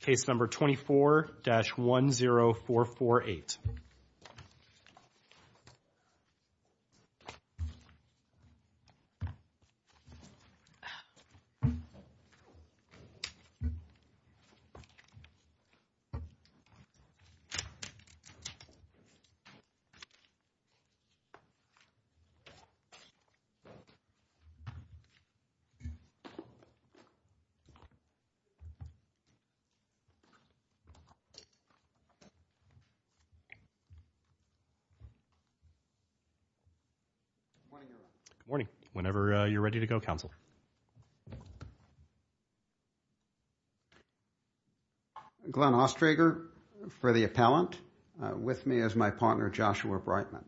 case number 24-10448 Good morning. Whenever you're ready to go, counsel. Glenn Ostrager for the appellant. With me is my partner, Joshua Breitman.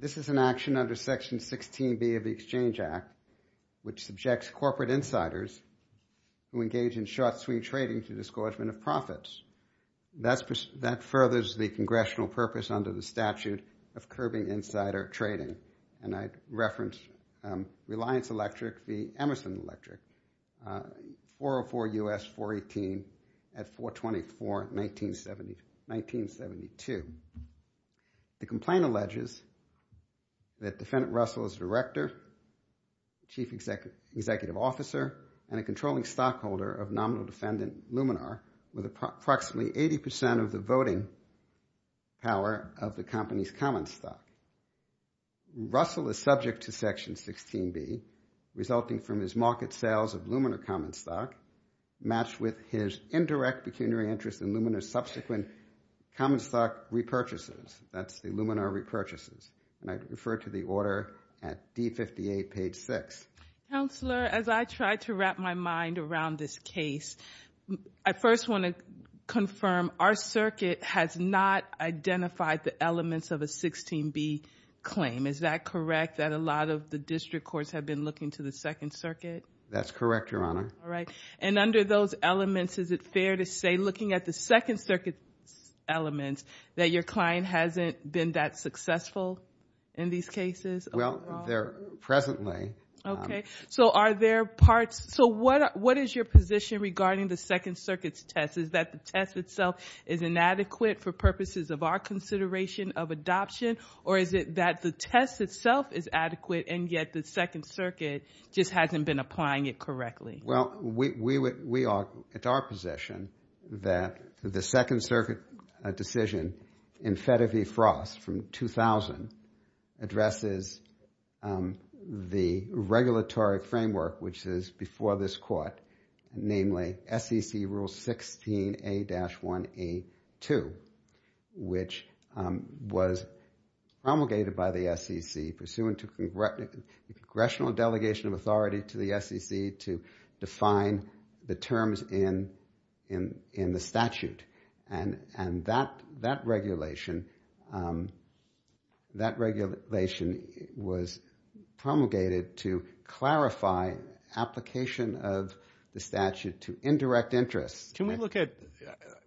This is an under section 16B of the Exchange Act, which subjects corporate insiders who engage in short swing trading to the disgorgement of profits. That furthers the congressional purpose under the statute of curbing insider trading. And I reference Reliance Electric v. Emerson Russell as director, chief executive officer, and a controlling stockholder of nominal defendant Luminar with approximately 80% of the voting power of the company's common stock. Russell is subject to section 16B resulting from his market sales of Luminar common stock matched with his indirect pecuniary interest in Luminar's subsequent common stock repurchases. That's the Luminar repurchases. And I refer to the order at D58, page 6. Counselor, as I try to wrap my mind around this case, I first want to confirm our circuit has not identified the elements of a 16B claim. Is that correct, that a lot of the district courts have been looking to the Second Circuit? That's correct, Your Honor. All right. And under those elements, is it fair to say, looking at the Second Circuit elements, that your client hasn't been that successful in these cases? Well, they're presently. Okay. So are there parts... So what is your position regarding the Second Circuit's test? Is that the test itself is inadequate for purposes of our consideration of adoption, or is it that the test itself is adequate and yet the Second Circuit just hasn't been applying it correctly? Well, we are at our position that the Second Circuit decision in FEDER v. Frost from 2000 addresses the regulatory framework, which is before this court, namely SEC Rule 16A-1A2, which was promulgated by the SEC pursuant to congressional delegation of authority to the SEC to define the terms in the statute. And that regulation was promulgated to clarify application of the statute to indirect interests. Can we look at...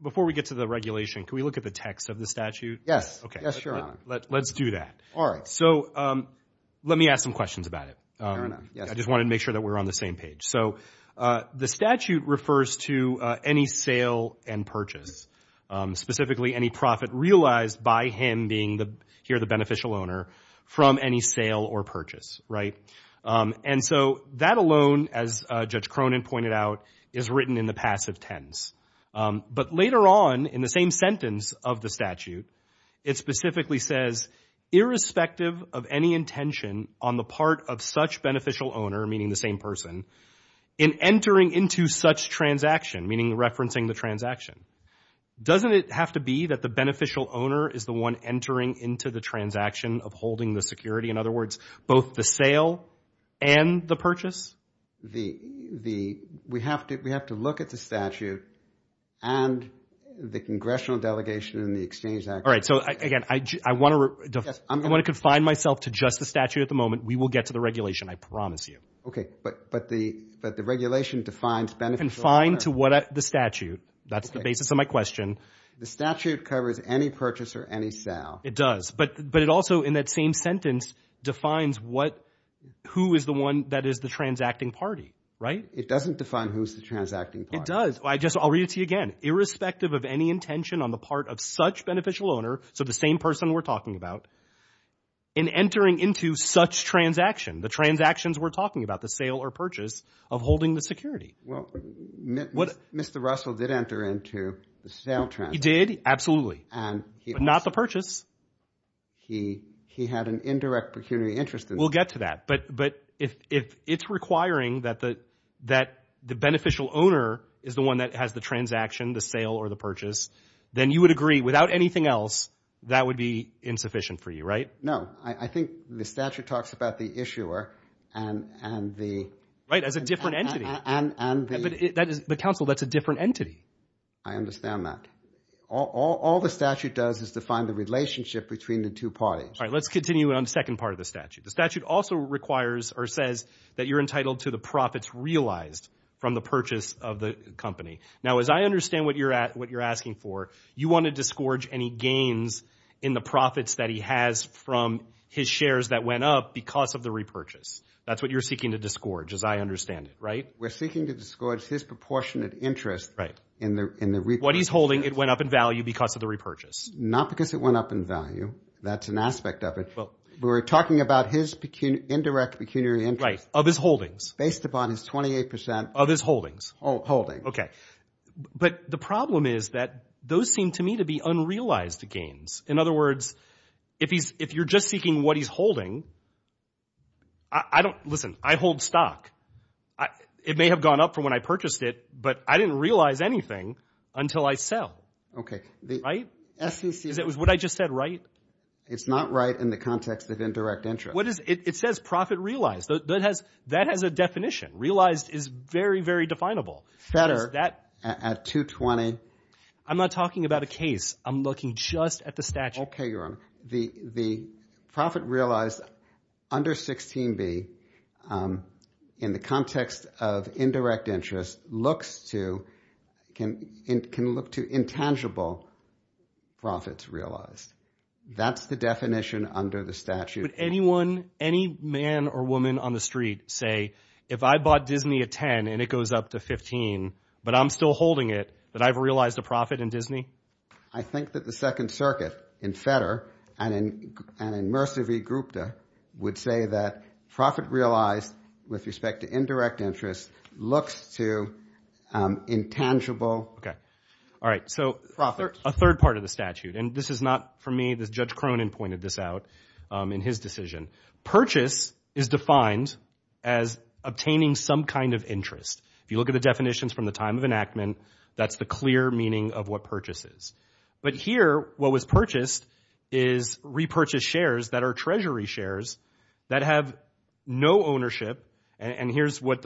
Before we get to the regulation, can we look at the text of the statute? Yes. Yes, Your Honor. Let's do that. All right. So let me ask some questions about it. Fair enough. I just wanted to make sure that we're on the same page. So the statute refers to any sale and purchase, specifically any profit realized by him being here the beneficial owner from any sale or purchase, right? And so that alone, as Judge Cronin pointed out, is written in the passive tense. But later on in the same sentence of the statute, it specifically says, irrespective of any intention on the part of such beneficial owner, meaning the same person, in entering into such transaction, meaning referencing the transaction, doesn't it have to be that the beneficial owner is the one entering into the transaction of holding the security? In other words, both the sale and the purchase? We have to look at the statute and the congressional delegation and the All right. So again, I want to confine myself to just the statute at the moment. We will get to the regulation, I promise you. Okay. But the regulation defines beneficial owner. Confined to the statute. That's the basis of my question. The statute covers any purchase or any sale. It does. But it also, in that same sentence, defines who is the one that is the transacting party, right? It doesn't define who's the transacting party. It does. I'll read it to you again. Irrespective of any intention on the part of such beneficial owner, so the same person we're talking about, in entering into such transaction, the transactions we're talking about, the sale or purchase of holding the security. Well, Mr. Russell did enter into the sale transaction. He did. Absolutely. And he... But not the purchase. He had an indirect pecuniary interest in... We'll get to that. But if it's requiring that the beneficial owner is the one that has the transaction, the sale or the purchase, then you would agree, without anything else, that would be insufficient for you, right? No. I think the statute talks about the issuer and the... Right. As a different entity. But counsel, that's a different entity. I understand that. All the statute does is define the relationship between the two parties. All right. Let's continue on the second part of the statute. The statute also requires or says that you're entitled to the profits realized from the purchase of the company. Now, as I understand what you're asking for, you want to disgorge any gains in the profits that he has from his shares that went up because of the repurchase. That's what you're seeking to disgorge, as I understand it, right? We're seeking to disgorge his proportionate interest in the repurchase. What he's holding, it went up in value because of the repurchase. Not because it went up in value. That's an aspect of it. We're talking about his indirect pecuniary interest... Right. Of his holdings. Based upon his 28 percent... Of his holdings. Holdings. Okay. But the problem is that those seem to me to be unrealized gains. In other words, if you're just seeking what he's holding, I don't... Listen, I hold stock. It may have gone up from when I purchased it, but I didn't realize anything until I sell. Okay. Right? SEC... Is what I just said right? It's not right in the context of indirect interest. It says profit realized. That has a definition. Realized is very, very definable. It's better at 220. I'm not talking about a case. I'm looking just at the statute. Okay, Your Honor. The profit realized under 16b, in the context of indirect interest, can look to intangible profits realized. That's the definition under the statute. Would anyone, any man or woman on the street say, if I bought Disney at 10 and it goes up to 15, but I'm still holding it, that I've realized a profit in Disney? I think that the Second Circuit, in Fetter and in Mercer v. Grupta, would say that profit realized with respect to indirect interest looks to intangible profits. Okay. All right. So a third part of the statute, and this is not for me. Judge Cronin pointed this out in his decision. Purchase is defined as obtaining some kind of interest. If you look at the definitions from the time of enactment, that's the clear meaning of what purchase is. But here, what was purchased is repurchased shares that are treasury shares that have no ownership. And here's what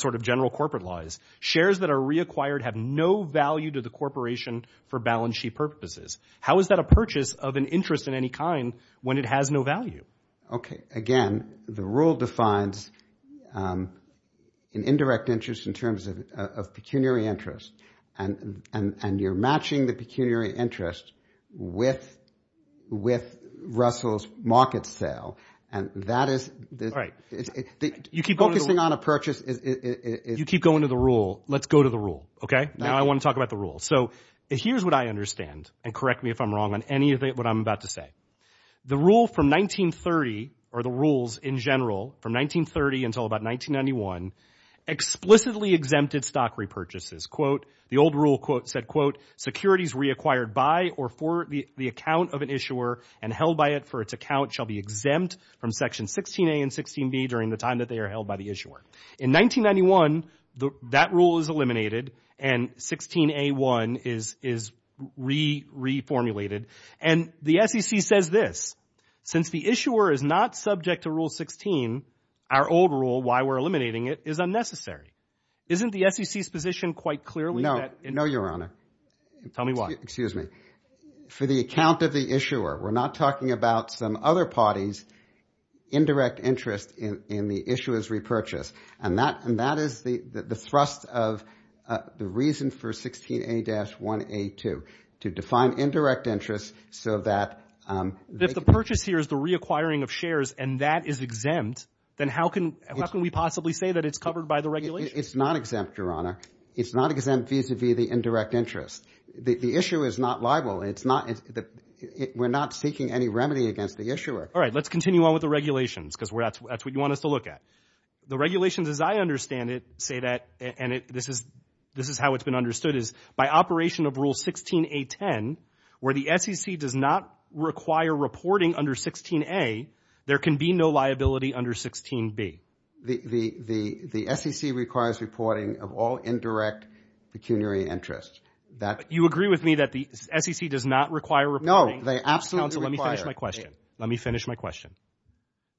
sort of general corporate law is. Shares that are reacquired have no value to the corporation for balance sheet purposes. How is that a purchase of an interest in any kind when it has no value? Okay. Again, the rule defines an indirect interest in terms of pecuniary interest. And you're matching the pecuniary interest with Russell's market sale. And that is— All right. You keep going to the rule. Focusing on a purchase is— You keep going to the rule. Let's go to the rule, okay? Now I want to talk about the rule. So here's what I understand. And correct me if I'm wrong on any of what I'm about to say. The rule from 1930, or the rules in general from 1930 until about 1991, explicitly exempted stock repurchases. Quote, the old rule said, quote, securities reacquired by or for the account of an issuer and held by it for its account shall be exempt from section 16A and 16B during the time that they are held by the issuer. In 1991, that rule is eliminated and 16A1 is reformulated. And the SEC says this. Since the issuer is not subject to Rule 16, our old rule, why we're eliminating it, is unnecessary. Isn't the SEC's position quite clearly that— No. No, Your Honor. Tell me why. Excuse me. For the account of the issuer, we're not talking about some other party's indirect interest in the issuer's repurchase. And that is the thrust of the reason for 16A-1A2, to define indirect interest so that— If the purchase here is the reacquiring of shares and that is exempt, then how can we possibly say that it's covered by the regulations? It's not exempt, Your Honor. It's not exempt vis-a-vis the indirect interest. The issuer is not liable. We're not seeking any remedy against the issuer. All right. Let's continue on with the regulations because that's what you want us to look at. The regulations as I understand it say that, and this is how it's been understood is, by operation of Rule 16A-10, where the SEC does not require reporting under 16A, there can be no liability under 16B. The SEC requires reporting of all indirect pecuniary interest. That— You agree with me that the SEC does not require reporting? No. They absolutely require— Let me finish my question. Let me finish my question.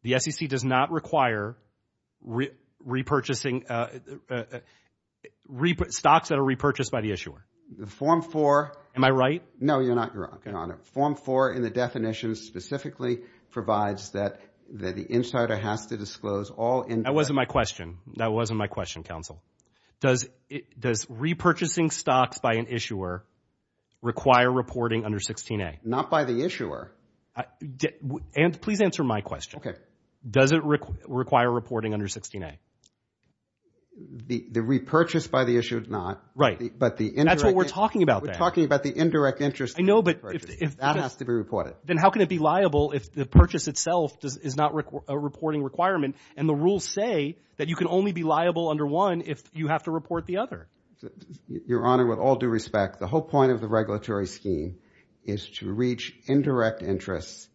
The SEC does not require repurchasing stocks that are repurchased by the issuer? The Form 4— Am I right? No, you're not, Your Honor. Form 4 in the definition specifically provides that the insider has to disclose all— That wasn't my question. That wasn't my question, Counsel. Does repurchasing stocks by an issuer require reporting under 16A? Not by the issuer. I— Please answer my question. Okay. Does it require reporting under 16A? The repurchase by the issuer, not. Right. But the indirect— That's what we're talking about there. We're talking about the indirect interest— I know, but if— That has to be reported. Then how can it be liable if the purchase itself is not a reporting requirement, and the rules say that you can only be liable under one if you have to report the other? Your Honor, with all due respect, the whole point of the regulatory scheme is to reach indirect interests,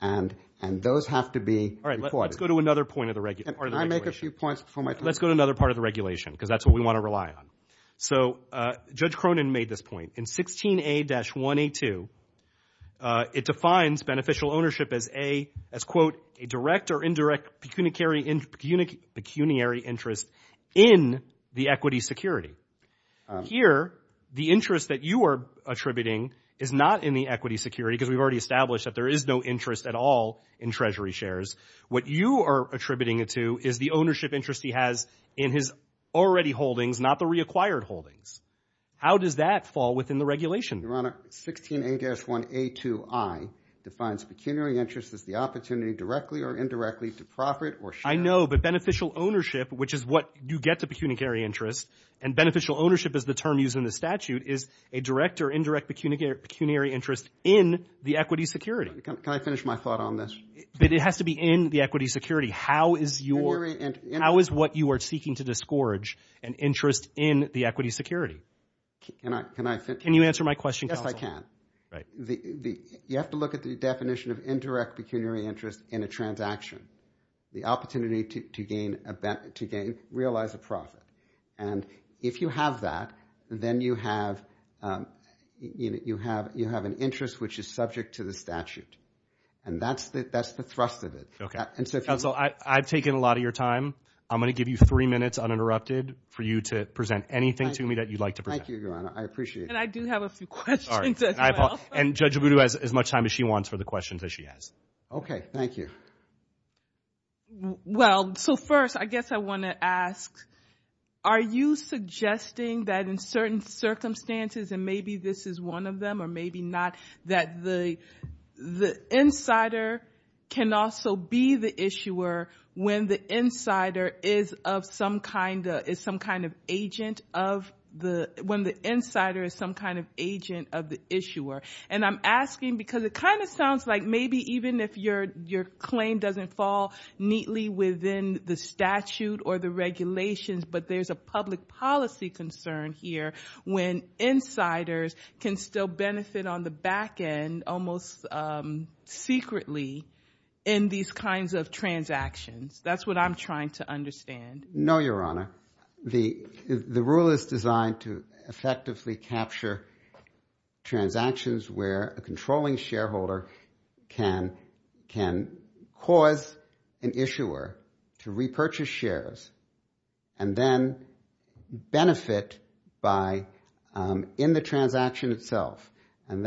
and those have to be reported. All right, let's go to another point of the regulation. Can I make a few points before my time? Let's go to another part of the regulation, because that's what we want to rely on. So Judge Cronin made this point. In 16A-1A2, it defines beneficial ownership as, A, as, quote, a direct or indirect pecuniary interest in the equity security. Here, the interest that you are attributing is not in the equity security, because we've already established that there is no interest at all in Treasury shares. What you are attributing it to is the ownership interest he has in his already holdings, not the reacquired holdings. How does that fall within the regulation? Your Honor, 16A-1A2i defines pecuniary interest as the opportunity, directly or indirectly, to profit or share. I know, but beneficial ownership, which is what you get the pecuniary interest, and beneficial ownership is the term used in the statute, is a direct or indirect pecuniary interest in the equity security. Can I finish my thought on this? But it has to be in the equity security. How is what you are seeking to disgorge an interest in the equity security? Can you answer my question, Counsel? Yes, I can. You have to look at the definition of indirect pecuniary interest in a transaction, the opportunity to realize a profit. And if you have that, then you have an interest which is subject to the statute. And that's the thrust of it. Counsel, I've taken a lot of your time. I'm going to give you three minutes, uninterrupted, for you to present anything to me that you'd like to present. Thank you, Your Honor. I appreciate it. And I do have a few questions as well. And Judge Agudu has as much time as she wants for the questions that she has. Okay, thank you. Well, so first, I guess I want to ask, are you suggesting that in certain circumstances, and maybe this is one of them or maybe not, that the insider can also be the issuer when the insider is some kind of agent of the issuer? And I'm asking because it kind of sounds like maybe even if your claim doesn't fall neatly within the statute or the regulations, but there's a public policy concern here when insiders can still benefit on the back end, almost secretly, in these kinds of transactions. That's what I'm trying to understand. No, Your Honor. The rule is designed to effectively capture transactions where a controlling shareholder can cause an issuer to repurchase shares and then benefit in the transaction itself. And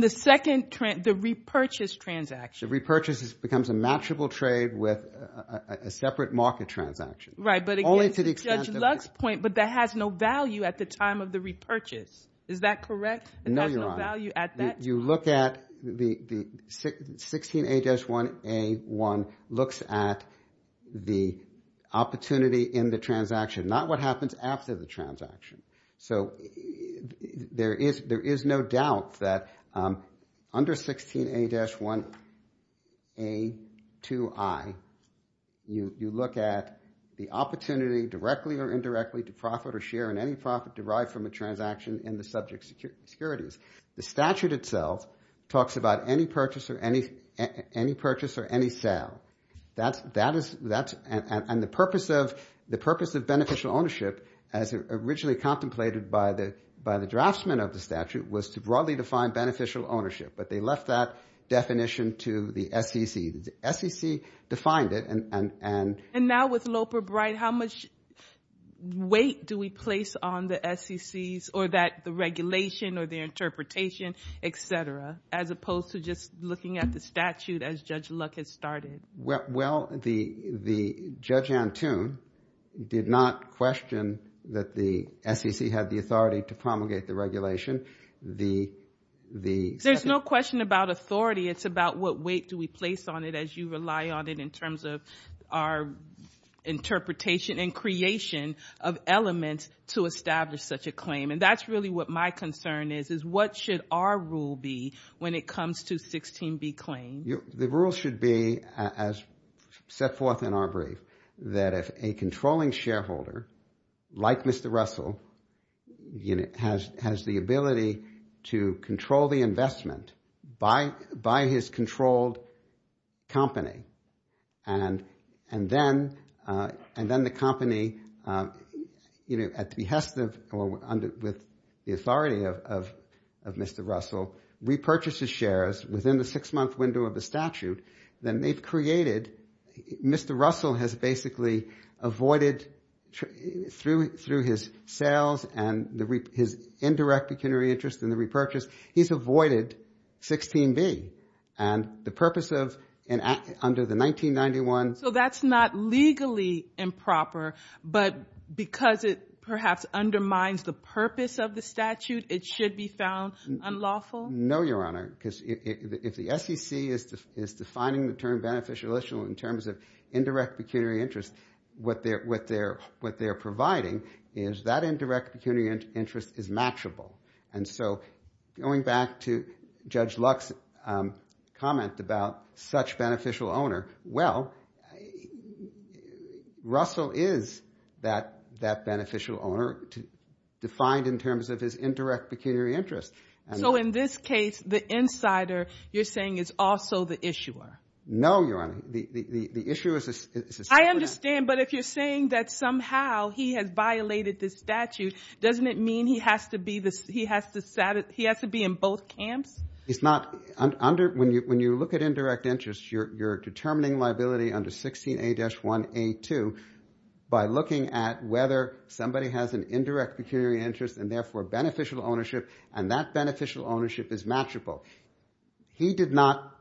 the second, the repurchase transaction. The repurchase becomes a matchable trade with a separate market transaction. Right, but again, Judge Lux's point, but that has no value at the time of the repurchase. Is that correct? No, Your Honor. It has no value at that time? You look at the 16A-1A1 looks at the opportunity in the transaction, not what happens after the transaction. So there is no doubt that under 16A-1A2I, you look at the opportunity, directly or indirectly, to profit or share in any profit derived from a transaction in the subject securities. The statute itself talks about any purchase or any sale. And the purpose of beneficial ownership, as originally contemplated by the draftsman of the statute, was to broadly define beneficial ownership, but they left that definition to the SEC. The SEC defined it. And now with Loper-Bright, how much weight do we place on the SECs or the regulation or their interpretation, et cetera, as opposed to just looking at the statute as Judge Lux had started? Well, Judge Antoon did not question that the SEC had the authority to promulgate the regulation. There's no question about authority. It's about what weight do we place on it as you rely on it in terms of our interpretation and creation of elements to establish such a claim. And that's really what my concern is, is what should our rule be when it comes to 16B claims? The rule should be, as set forth in our brief, that if a controlling shareholder, like Mr. Russell, has the ability to control the investment by his controlled company, and then the company, at the behest of or with the authority of Mr. Russell, repurchases shares within the six-month window of the statute, then they've created, Mr. Russell has basically avoided, through his sales and his indirect pecuniary interest in the repurchase, he's avoided 16B. And the purpose of, under the 1991... So that's not legally improper, but because it perhaps undermines the purpose of the statute, it should be found unlawful? No, Your Honor. Because if the SEC is defining the term beneficial-illitional in terms of indirect pecuniary interest, what they're providing is that indirect pecuniary interest is matchable. And so going back to Judge Lux's comment about such beneficial owner, well, Russell is that beneficial owner defined in terms of his indirect pecuniary interest. So in this case, the insider, you're saying, is also the issuer? No, Your Honor. The issuer is a... I understand. But if you're saying that somehow he has violated the statute, doesn't it mean he has to be in both camps? It's not... When you look at indirect interest, you're determining liability under 16A-1A2 by looking at whether somebody has an indirect pecuniary interest and therefore beneficial ownership, and that beneficial ownership is matchable. He did not,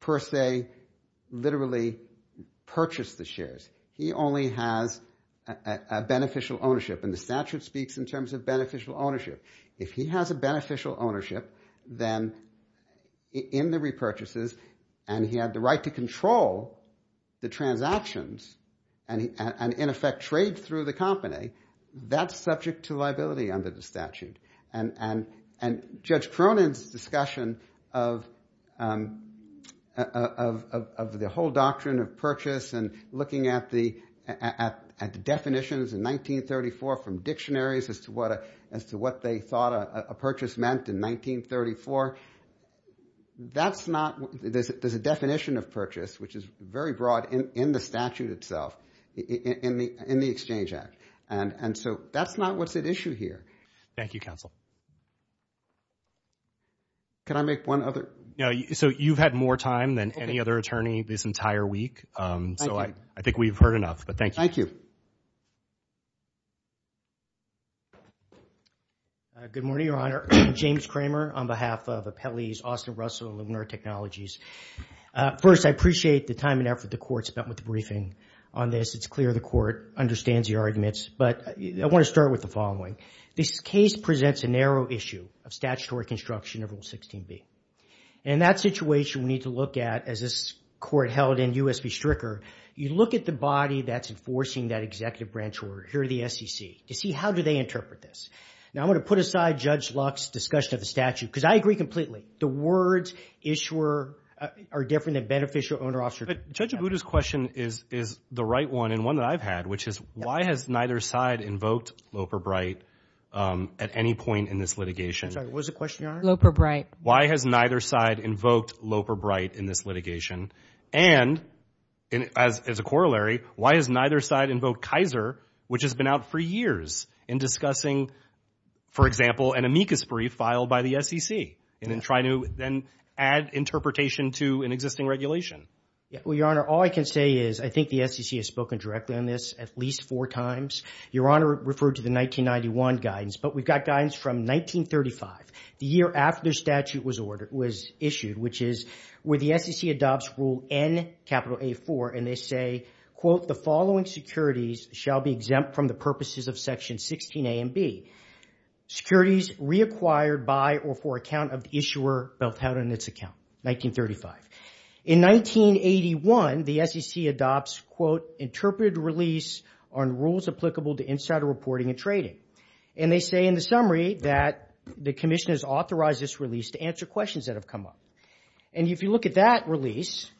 per se, literally purchase the shares. He only has a beneficial ownership. And the statute speaks in terms of beneficial ownership. If he has a beneficial ownership, then in the repurchases, and he had the right to control the transactions and, in effect, trade through the company, that's subject to liability under the statute. And Judge Cronin's discussion of the whole doctrine of purchase and looking at the definitions in 1934 from dictionaries as to what they thought a purchase meant in 1934, that's not... There's a definition of purchase, which is very broad in the statute itself, in the Exchange Act. And so that's not what's at issue here. Thank you, Counsel. Can I make one other... No. So you've had more time than any other attorney this entire week so I think we've heard enough. But thank you. Good morning, Your Honor. James Kramer on behalf of Appellee's Austin Russell and Luminar Technologies. First, I appreciate the time and effort the Court spent with the briefing on this. It's clear the Court understands the arguments, but I want to start with the following. This case presents a narrow issue of statutory construction of Rule 16b. And that situation we need to look at as this Court held in U.S. v. Stricker, you look at the body that's enforcing that executive branch order, here are the SEC, to see how do they interpret this. Now, I'm going to put aside Judge Luck's discussion of the statute because I agree completely. The words, issuer, are different than beneficial, owner, officer. But Judge Abudu's question is the right one and one that I've had, which is why has neither side invoked Loper Bright at any point in this litigation? I'm sorry, what was the question, Your Honor? Loper Bright. Why has neither side invoked Loper Bright in this litigation? And as a corollary, why has neither side invoked Kaiser, which has been out for years in discussing, for example, an amicus brief filed by the SEC and then try to then add interpretation to an existing regulation? Yeah, well, Your Honor, all I can say is I think the SEC has spoken directly on this at least four times. Your Honor referred to the 1991 guidance, but we've got guidance from 1935, the year after the statute was issued, which is where the SEC adopts Rule N, capital A4, and they say, quote, the following securities shall be exempt from the purposes of Section 16 A and B. Securities reacquired by or for account of the issuer built out in its account, 1935. In 1981, the SEC adopts, quote, interpreted release on rules applicable to insider reporting and trading. And they say in the summary that the commission has authorized this release to answer questions that have come up. And if you look at that release,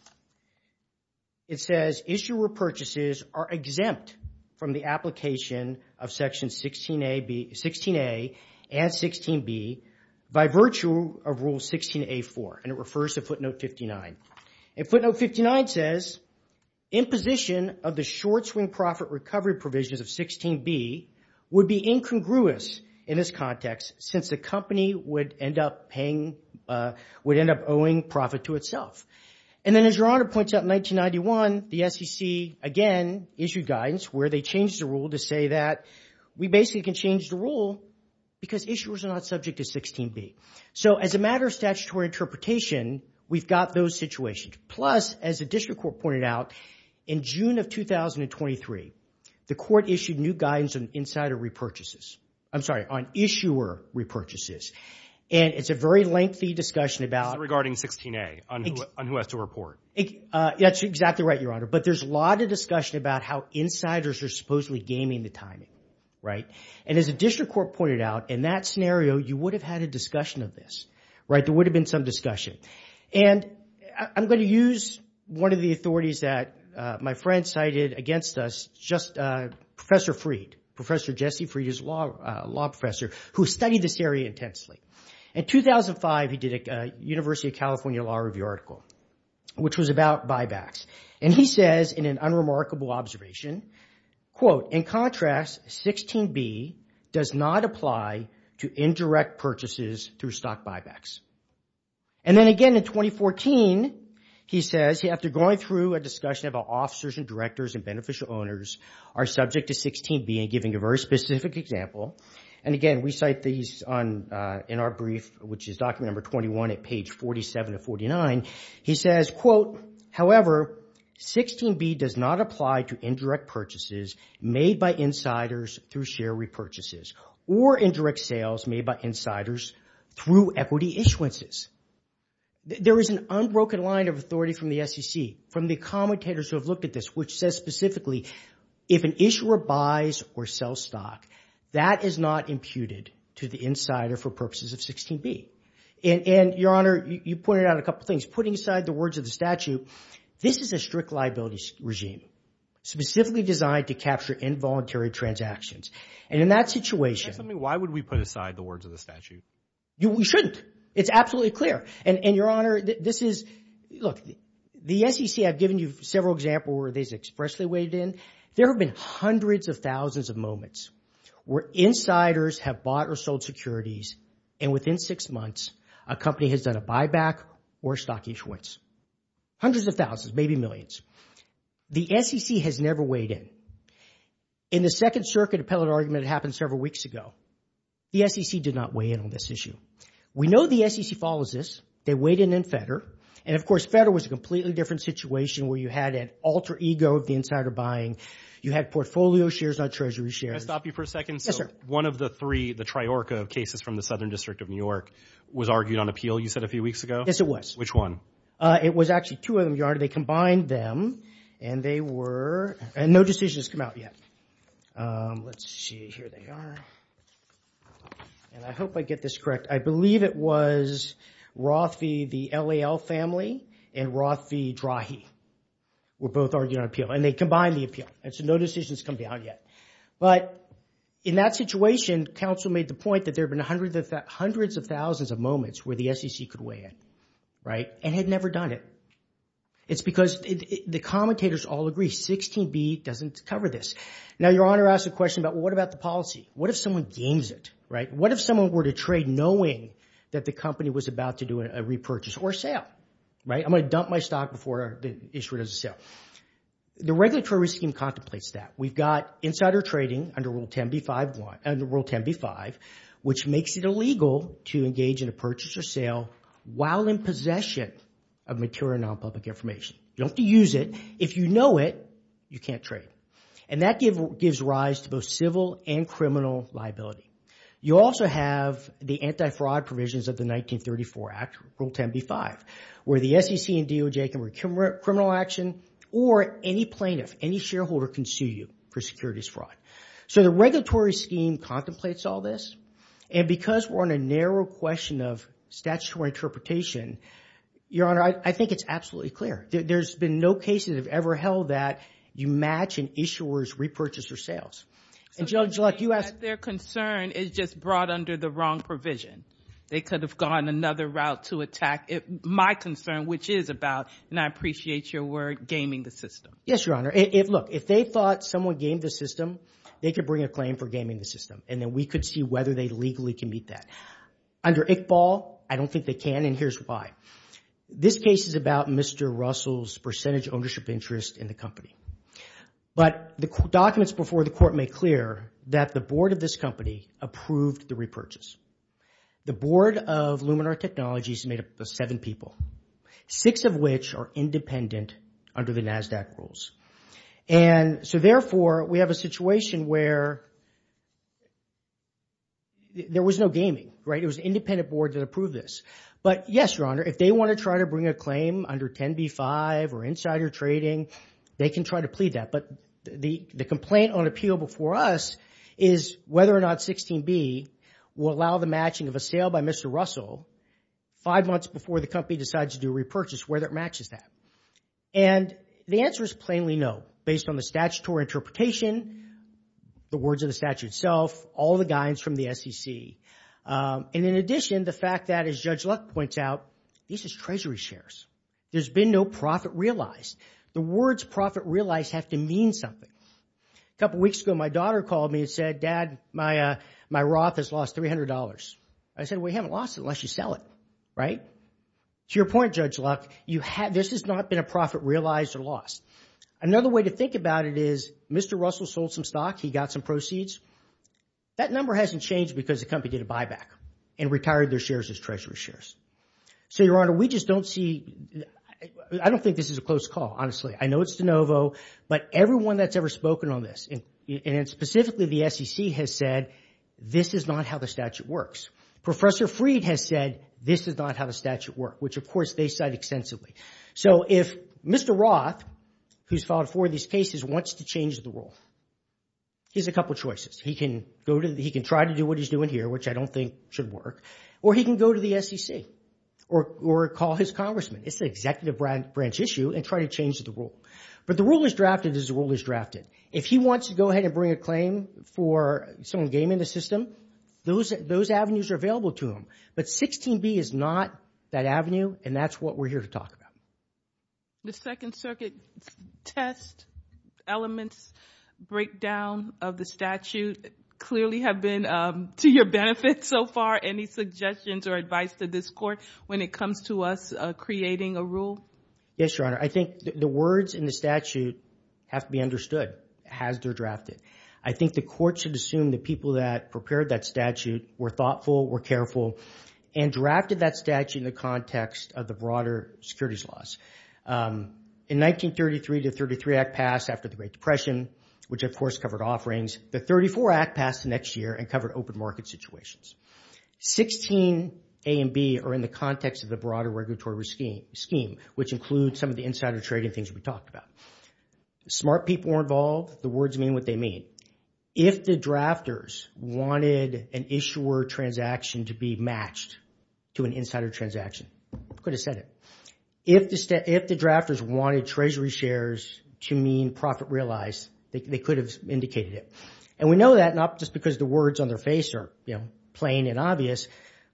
it says issuer purchases are exempt from the application of Section 16 A and 16 B by virtue of Rule 16 A4. And it refers to footnote 59. And footnote 59 says, imposition of the short swing profit recovery provisions of 16 B would be incongruous in this context since the company would end up paying, would end up owing profit to itself. And then as your honor points out in 1991, the SEC again issued guidance where they changed the rule to say that we basically can change the rule because issuers are not subject to 16 B. So as a matter of statutory interpretation, we've got those situations. Plus, as the district court pointed out, in June of 2023, the court issued new guidance on insider repurchases. I'm sorry, on issuer repurchases. And it's a very lengthy discussion about... It's regarding 16 A on who has to report. That's exactly right, your honor. But there's a lot of discussion about how insiders are supposedly gaming the timing, right? And as the district court pointed out, in that scenario, you would have had a discussion of this, right? There would have been some discussion. And I'm going to use one of the authorities that my friend cited against us, just Professor Freed, Professor Jesse Freed is a law professor who studied this area intensely. In 2005, he did a University of California Law Review article, which was about buybacks. And he says in an unremarkable observation, quote, in contrast, 16 B does not apply to indirect purchases through stock buybacks. And then again, in 2014, he says, after going through a discussion about officers and directors and beneficial owners are subject to 16 B and giving a very specific example. And again, we cite these in our brief, which is document number 21 at page 47 to 49. He says, quote, however, 16 B does not apply to indirect purchases made by insiders through share repurchases or indirect sales made by insiders through equity issuances. There is an unbroken line of authority from the SEC, from the commentators who have looked at this, which says specifically, if an issuer buys or sells stock, that is not imputed to the insider for purposes of 16 B. And Your Honor, you pointed out a couple of things. Putting aside the words of the statute, this is a strict liabilities regime, specifically designed to capture involuntary transactions. And in that situation... Tell me, why would we put aside the words of the statute? You shouldn't. It's absolutely clear. And Your Honor, this is... Look, the SEC, I've given you several examples where they've expressly weighed in. There have been hundreds of thousands of moments where insiders have bought or sold securities, and within six months, a company has done a buyback or stock issuance. Hundreds of thousands, maybe millions. The SEC has never weighed in. In the Second Circuit appellate argument that happened several weeks ago, the SEC did not weigh in on this issue. We know the SEC follows this. They weighed in on FEDR. And of course, FEDR was a completely different situation where you had an alter ego of the insider buying. You had portfolio shares, not treasury shares. Can I stop you for a second? Yes, sir. One of the three, the Triorca cases from the Southern District of New York was argued on appeal, you said, a few weeks ago? Yes, it was. Which one? It was actually two of them, Your Honor. They combined them, and they were... And no decision has come out yet. Let's see, here they are. And I hope I get this correct. I believe it was Rothfie, the LAL family, and Rothfie-Drahe were both argued on appeal. And they combined the appeal. And so no decision has come out yet. But in that situation, counsel made the point that there have been hundreds of thousands of moments where the SEC could weigh in, right? And had never done it. It's because the commentators all agree 16b doesn't cover this. Now, Your Honor asked a question about, well, what about the policy? What if someone gains it, right? What if someone were to trade knowing that the company was about to do a repurchase or sale, right? I'm going to dump my stock before the issuer does a sale. The regulatory scheme contemplates that. We've got insider trading under Rule 10b-5, which makes it illegal to engage in a purchase or sale while in possession of material non-public information. You don't have to use it. If you know it, you can't trade. And that gives rise to both civil and criminal liability. You also have the anti-fraud provisions of the 1934 Act, Rule 10b-5, where the SEC and DOJ can require criminal action or any plaintiff, any shareholder can sue you for securities fraud. So the regulatory scheme contemplates all this. And because we're on a narrow question of statutory interpretation, Your Honor, I think it's absolutely clear. There's been no cases that have ever held that you match an issuer's repurchase or sales. And Judge Luck, you asked- Their concern is just brought under the wrong provision. They could have gone another route to attack my concern, which is about, and I appreciate your word, gaming the system. Yes, Your Honor. Look, if they thought someone gamed the system, they could bring a claim for gaming the system. And then we could see whether they legally can meet that. Under ICBAL, I don't think they can. And here's why. This case is about Mr. Russell's percentage ownership interest in the company. But the documents before the court make clear that the board of this company approved the repurchase. The board of Luminar Technologies made up of seven people, six of which are independent under the NASDAQ rules. And so therefore, we have a situation where there was no gaming, right? It was an independent board that approved this. But yes, Your Honor, if they want to try to bring a claim under 10b-5 or insider trading, they can try to plead that. But the complaint on appeal before us is whether or not 16b will allow the matching of a sale by Mr. Russell five months before the company decides to do a repurchase, whether it matches that. And the answer is plainly no, based on the statutory interpretation, the words of the statute itself, all the guidance from the SEC. And in addition, the fact that, as Judge Luck points out, these is treasury shares. There's been no profit realized. The words profit realized have to mean something. A couple of weeks ago, my daughter called me and said, Dad, my Roth has lost $300. I said, we haven't lost it unless you sell it, right? To your point, Judge Luck, this has not been a profit realized or lost. Another way to think about it is Mr. Russell sold some stock. He got some proceeds. That number hasn't changed because the company did a buyback and retired their shares as treasury shares. So, Your Honor, we just don't see... I don't think this is a close call, honestly. I know it's de novo, but everyone that's ever spoken on this, and specifically the SEC, has said this is not how the statute works. Professor Freed has said this is not how the statute works, which, of course, they cite extensively. So if Mr. Roth, who's filed four of these cases, wants to change the rule, here's a couple of choices. He can go to... He can try to do what he's doing here, which I don't think should work, or he can go to the SEC, or call his congressman. It's an executive branch issue, and try to change the rule. But the rule is drafted as the rule is drafted. If he wants to go ahead and bring a claim for someone gaming the system, those avenues are available to him. But 16B is not that avenue, and that's what we're here to talk about. The Second Circuit test elements breakdown of the statute clearly have been to your benefit so far. Any suggestions or advice to this Court when it comes to us creating a rule? Yes, Your Honor. I think the words in the statute have to be understood, as they're drafted. I think the Court should assume the people that prepared that statute were thoughtful, were careful, and drafted that statute in the context of the broader securities laws. In 1933, the 33 Act passed after the Great Depression, which, of course, covered offerings. The 34 Act passed the next year and covered open market situations. 16A and B are in the context of the broader regulatory scheme, which includes some of the insider trading things we talked about. Smart people were involved. The words mean what they mean. If the drafters wanted an issuer transaction to be matched to an insider transaction, could have said it. If the drafters wanted treasury shares to mean profit realized, they could have indicated it. And we know that not just because the words on their face are, you know, plain and obvious,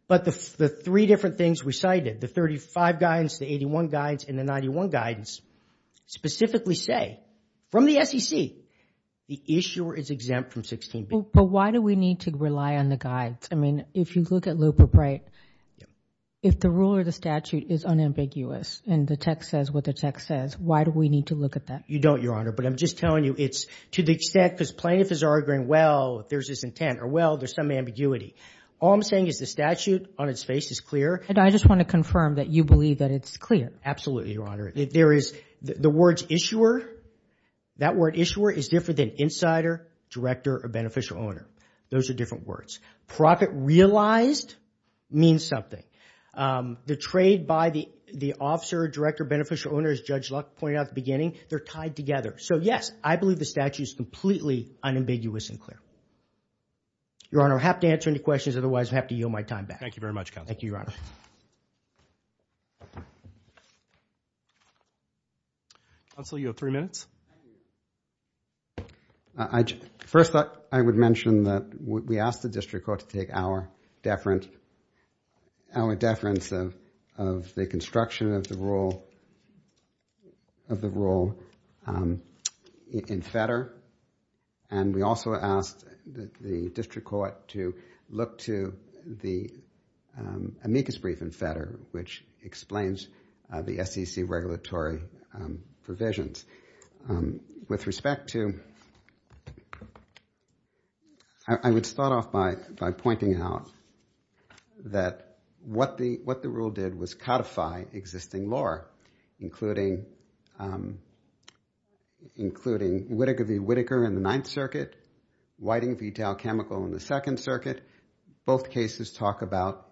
but the three different things we cited, the 35 guidance, the 81 guidance, and the 91 guidance, specifically say, from the SEC, the issuer is exempt from 16B. But why do we need to rely on the guides? I mean, if you look at Luper Bright, if the rule or the statute is unambiguous and the text says what the text says, why do we need to look at that? You don't, Your Honor, but I'm just telling you it's to the extent because plaintiff is arguing, well, there's this intent, or well, there's some ambiguity. All I'm saying is the statute on its face is clear. And I just want to confirm that you believe that it's clear. Absolutely, Your Honor. There is, the words issuer, that word issuer is different than insider, director, or beneficial owner. Those are different words. Profit realized means something. The trade by the officer, director, beneficial owner, as Judge Luck pointed out at the beginning, they're tied together. So yes, I believe the statute is completely unambiguous and clear. Your Honor, I have to answer any questions, otherwise I have to yield my time back. Thank you very much, Counselor. Thank you, Your Honor. Counselor, you have three minutes. First, I would mention that we asked the district court to take our deference of the construction of the rule in FEDR. And we also asked the district court to look to the amicus brief in FEDR, which explains the SEC regulatory provisions. With respect to, I would start off by pointing out that what the rule did was codify existing law, including Whitaker v. Whitaker in the Ninth Circuit, Whiting v. Dow Chemical in the Second Circuit. Both cases talk about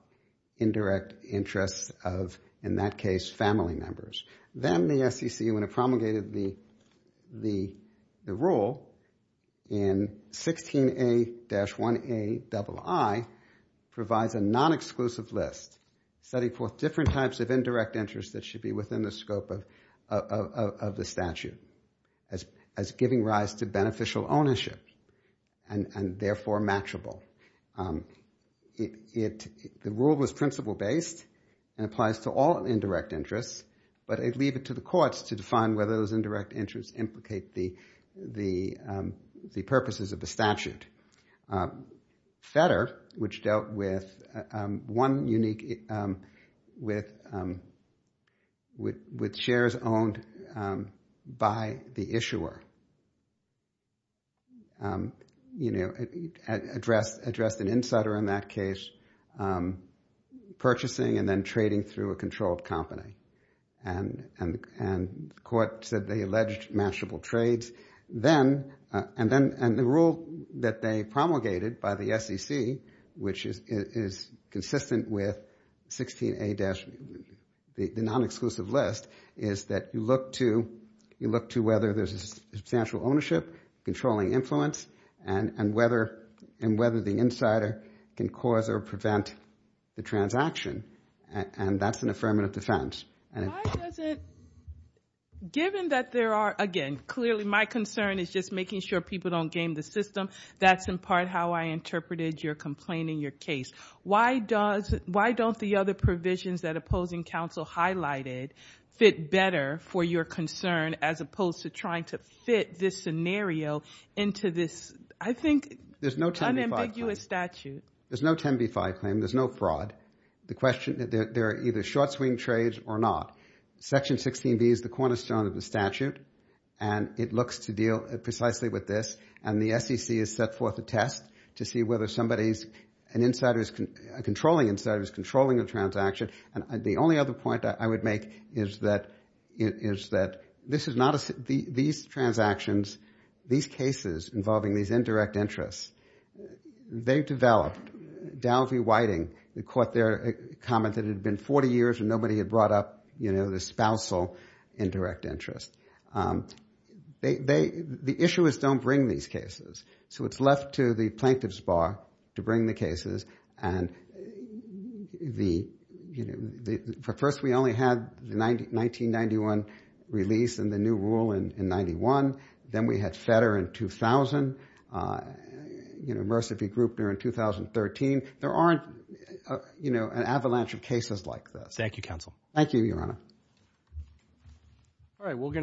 indirect interests of, in that case, family members. Then the SEC, when it promulgated the rule in 16A-1Aii, provides a non-exclusive list. Setting forth different types of indirect interests that should be within the scope of the statute, as giving rise to beneficial ownership and therefore matchable. The rule was principle-based and applies to all indirect interests, but I'd leave it to the courts to define whether those indirect interests implicate the purposes of the statute. FEDR, which dealt with one unique, with shares owned by the issuer, addressed an insider in that case, purchasing and then trading through a controlled company. And the court said they alleged matchable trades. And the rule that they promulgated by the SEC, which is consistent with 16A-1A, the non-exclusive list, is that you look to whether there's a substantial ownership, controlling influence, and whether the insider can cause or prevent the transaction. And that's an affirmative defense. Why does it, given that there are, again, clearly my concern is just making sure people don't game the system, that's in part how I interpreted your complaint in your case. Why don't the other provisions that opposing counsel highlighted fit better for your concern as opposed to trying to fit this scenario into this, I think, unambiguous statute? There's no 10b-5 claim. There's no fraud. There are either short-swing trades or not. Section 16B is the cornerstone of the statute. And it looks to deal precisely with this. And the SEC has set forth a test to see whether somebody's controlling insider is controlling a transaction. And the only other point I would make is that these transactions, these cases involving these indirect interests, they've developed, Dow v. Whiting caught their comment that it had been 40 years and nobody had brought up the spousal indirect interest. The issuers don't bring these cases. So it's left to the plaintiff's bar to bring the cases. But first, we only had the 1991 release and the new rule in 91. Then we had Fetter in 2000, Mercer v. Grupner in 2013. There aren't an avalanche of cases like this. Thank you, counsel. Thank you, Your Honor. All right, we're going to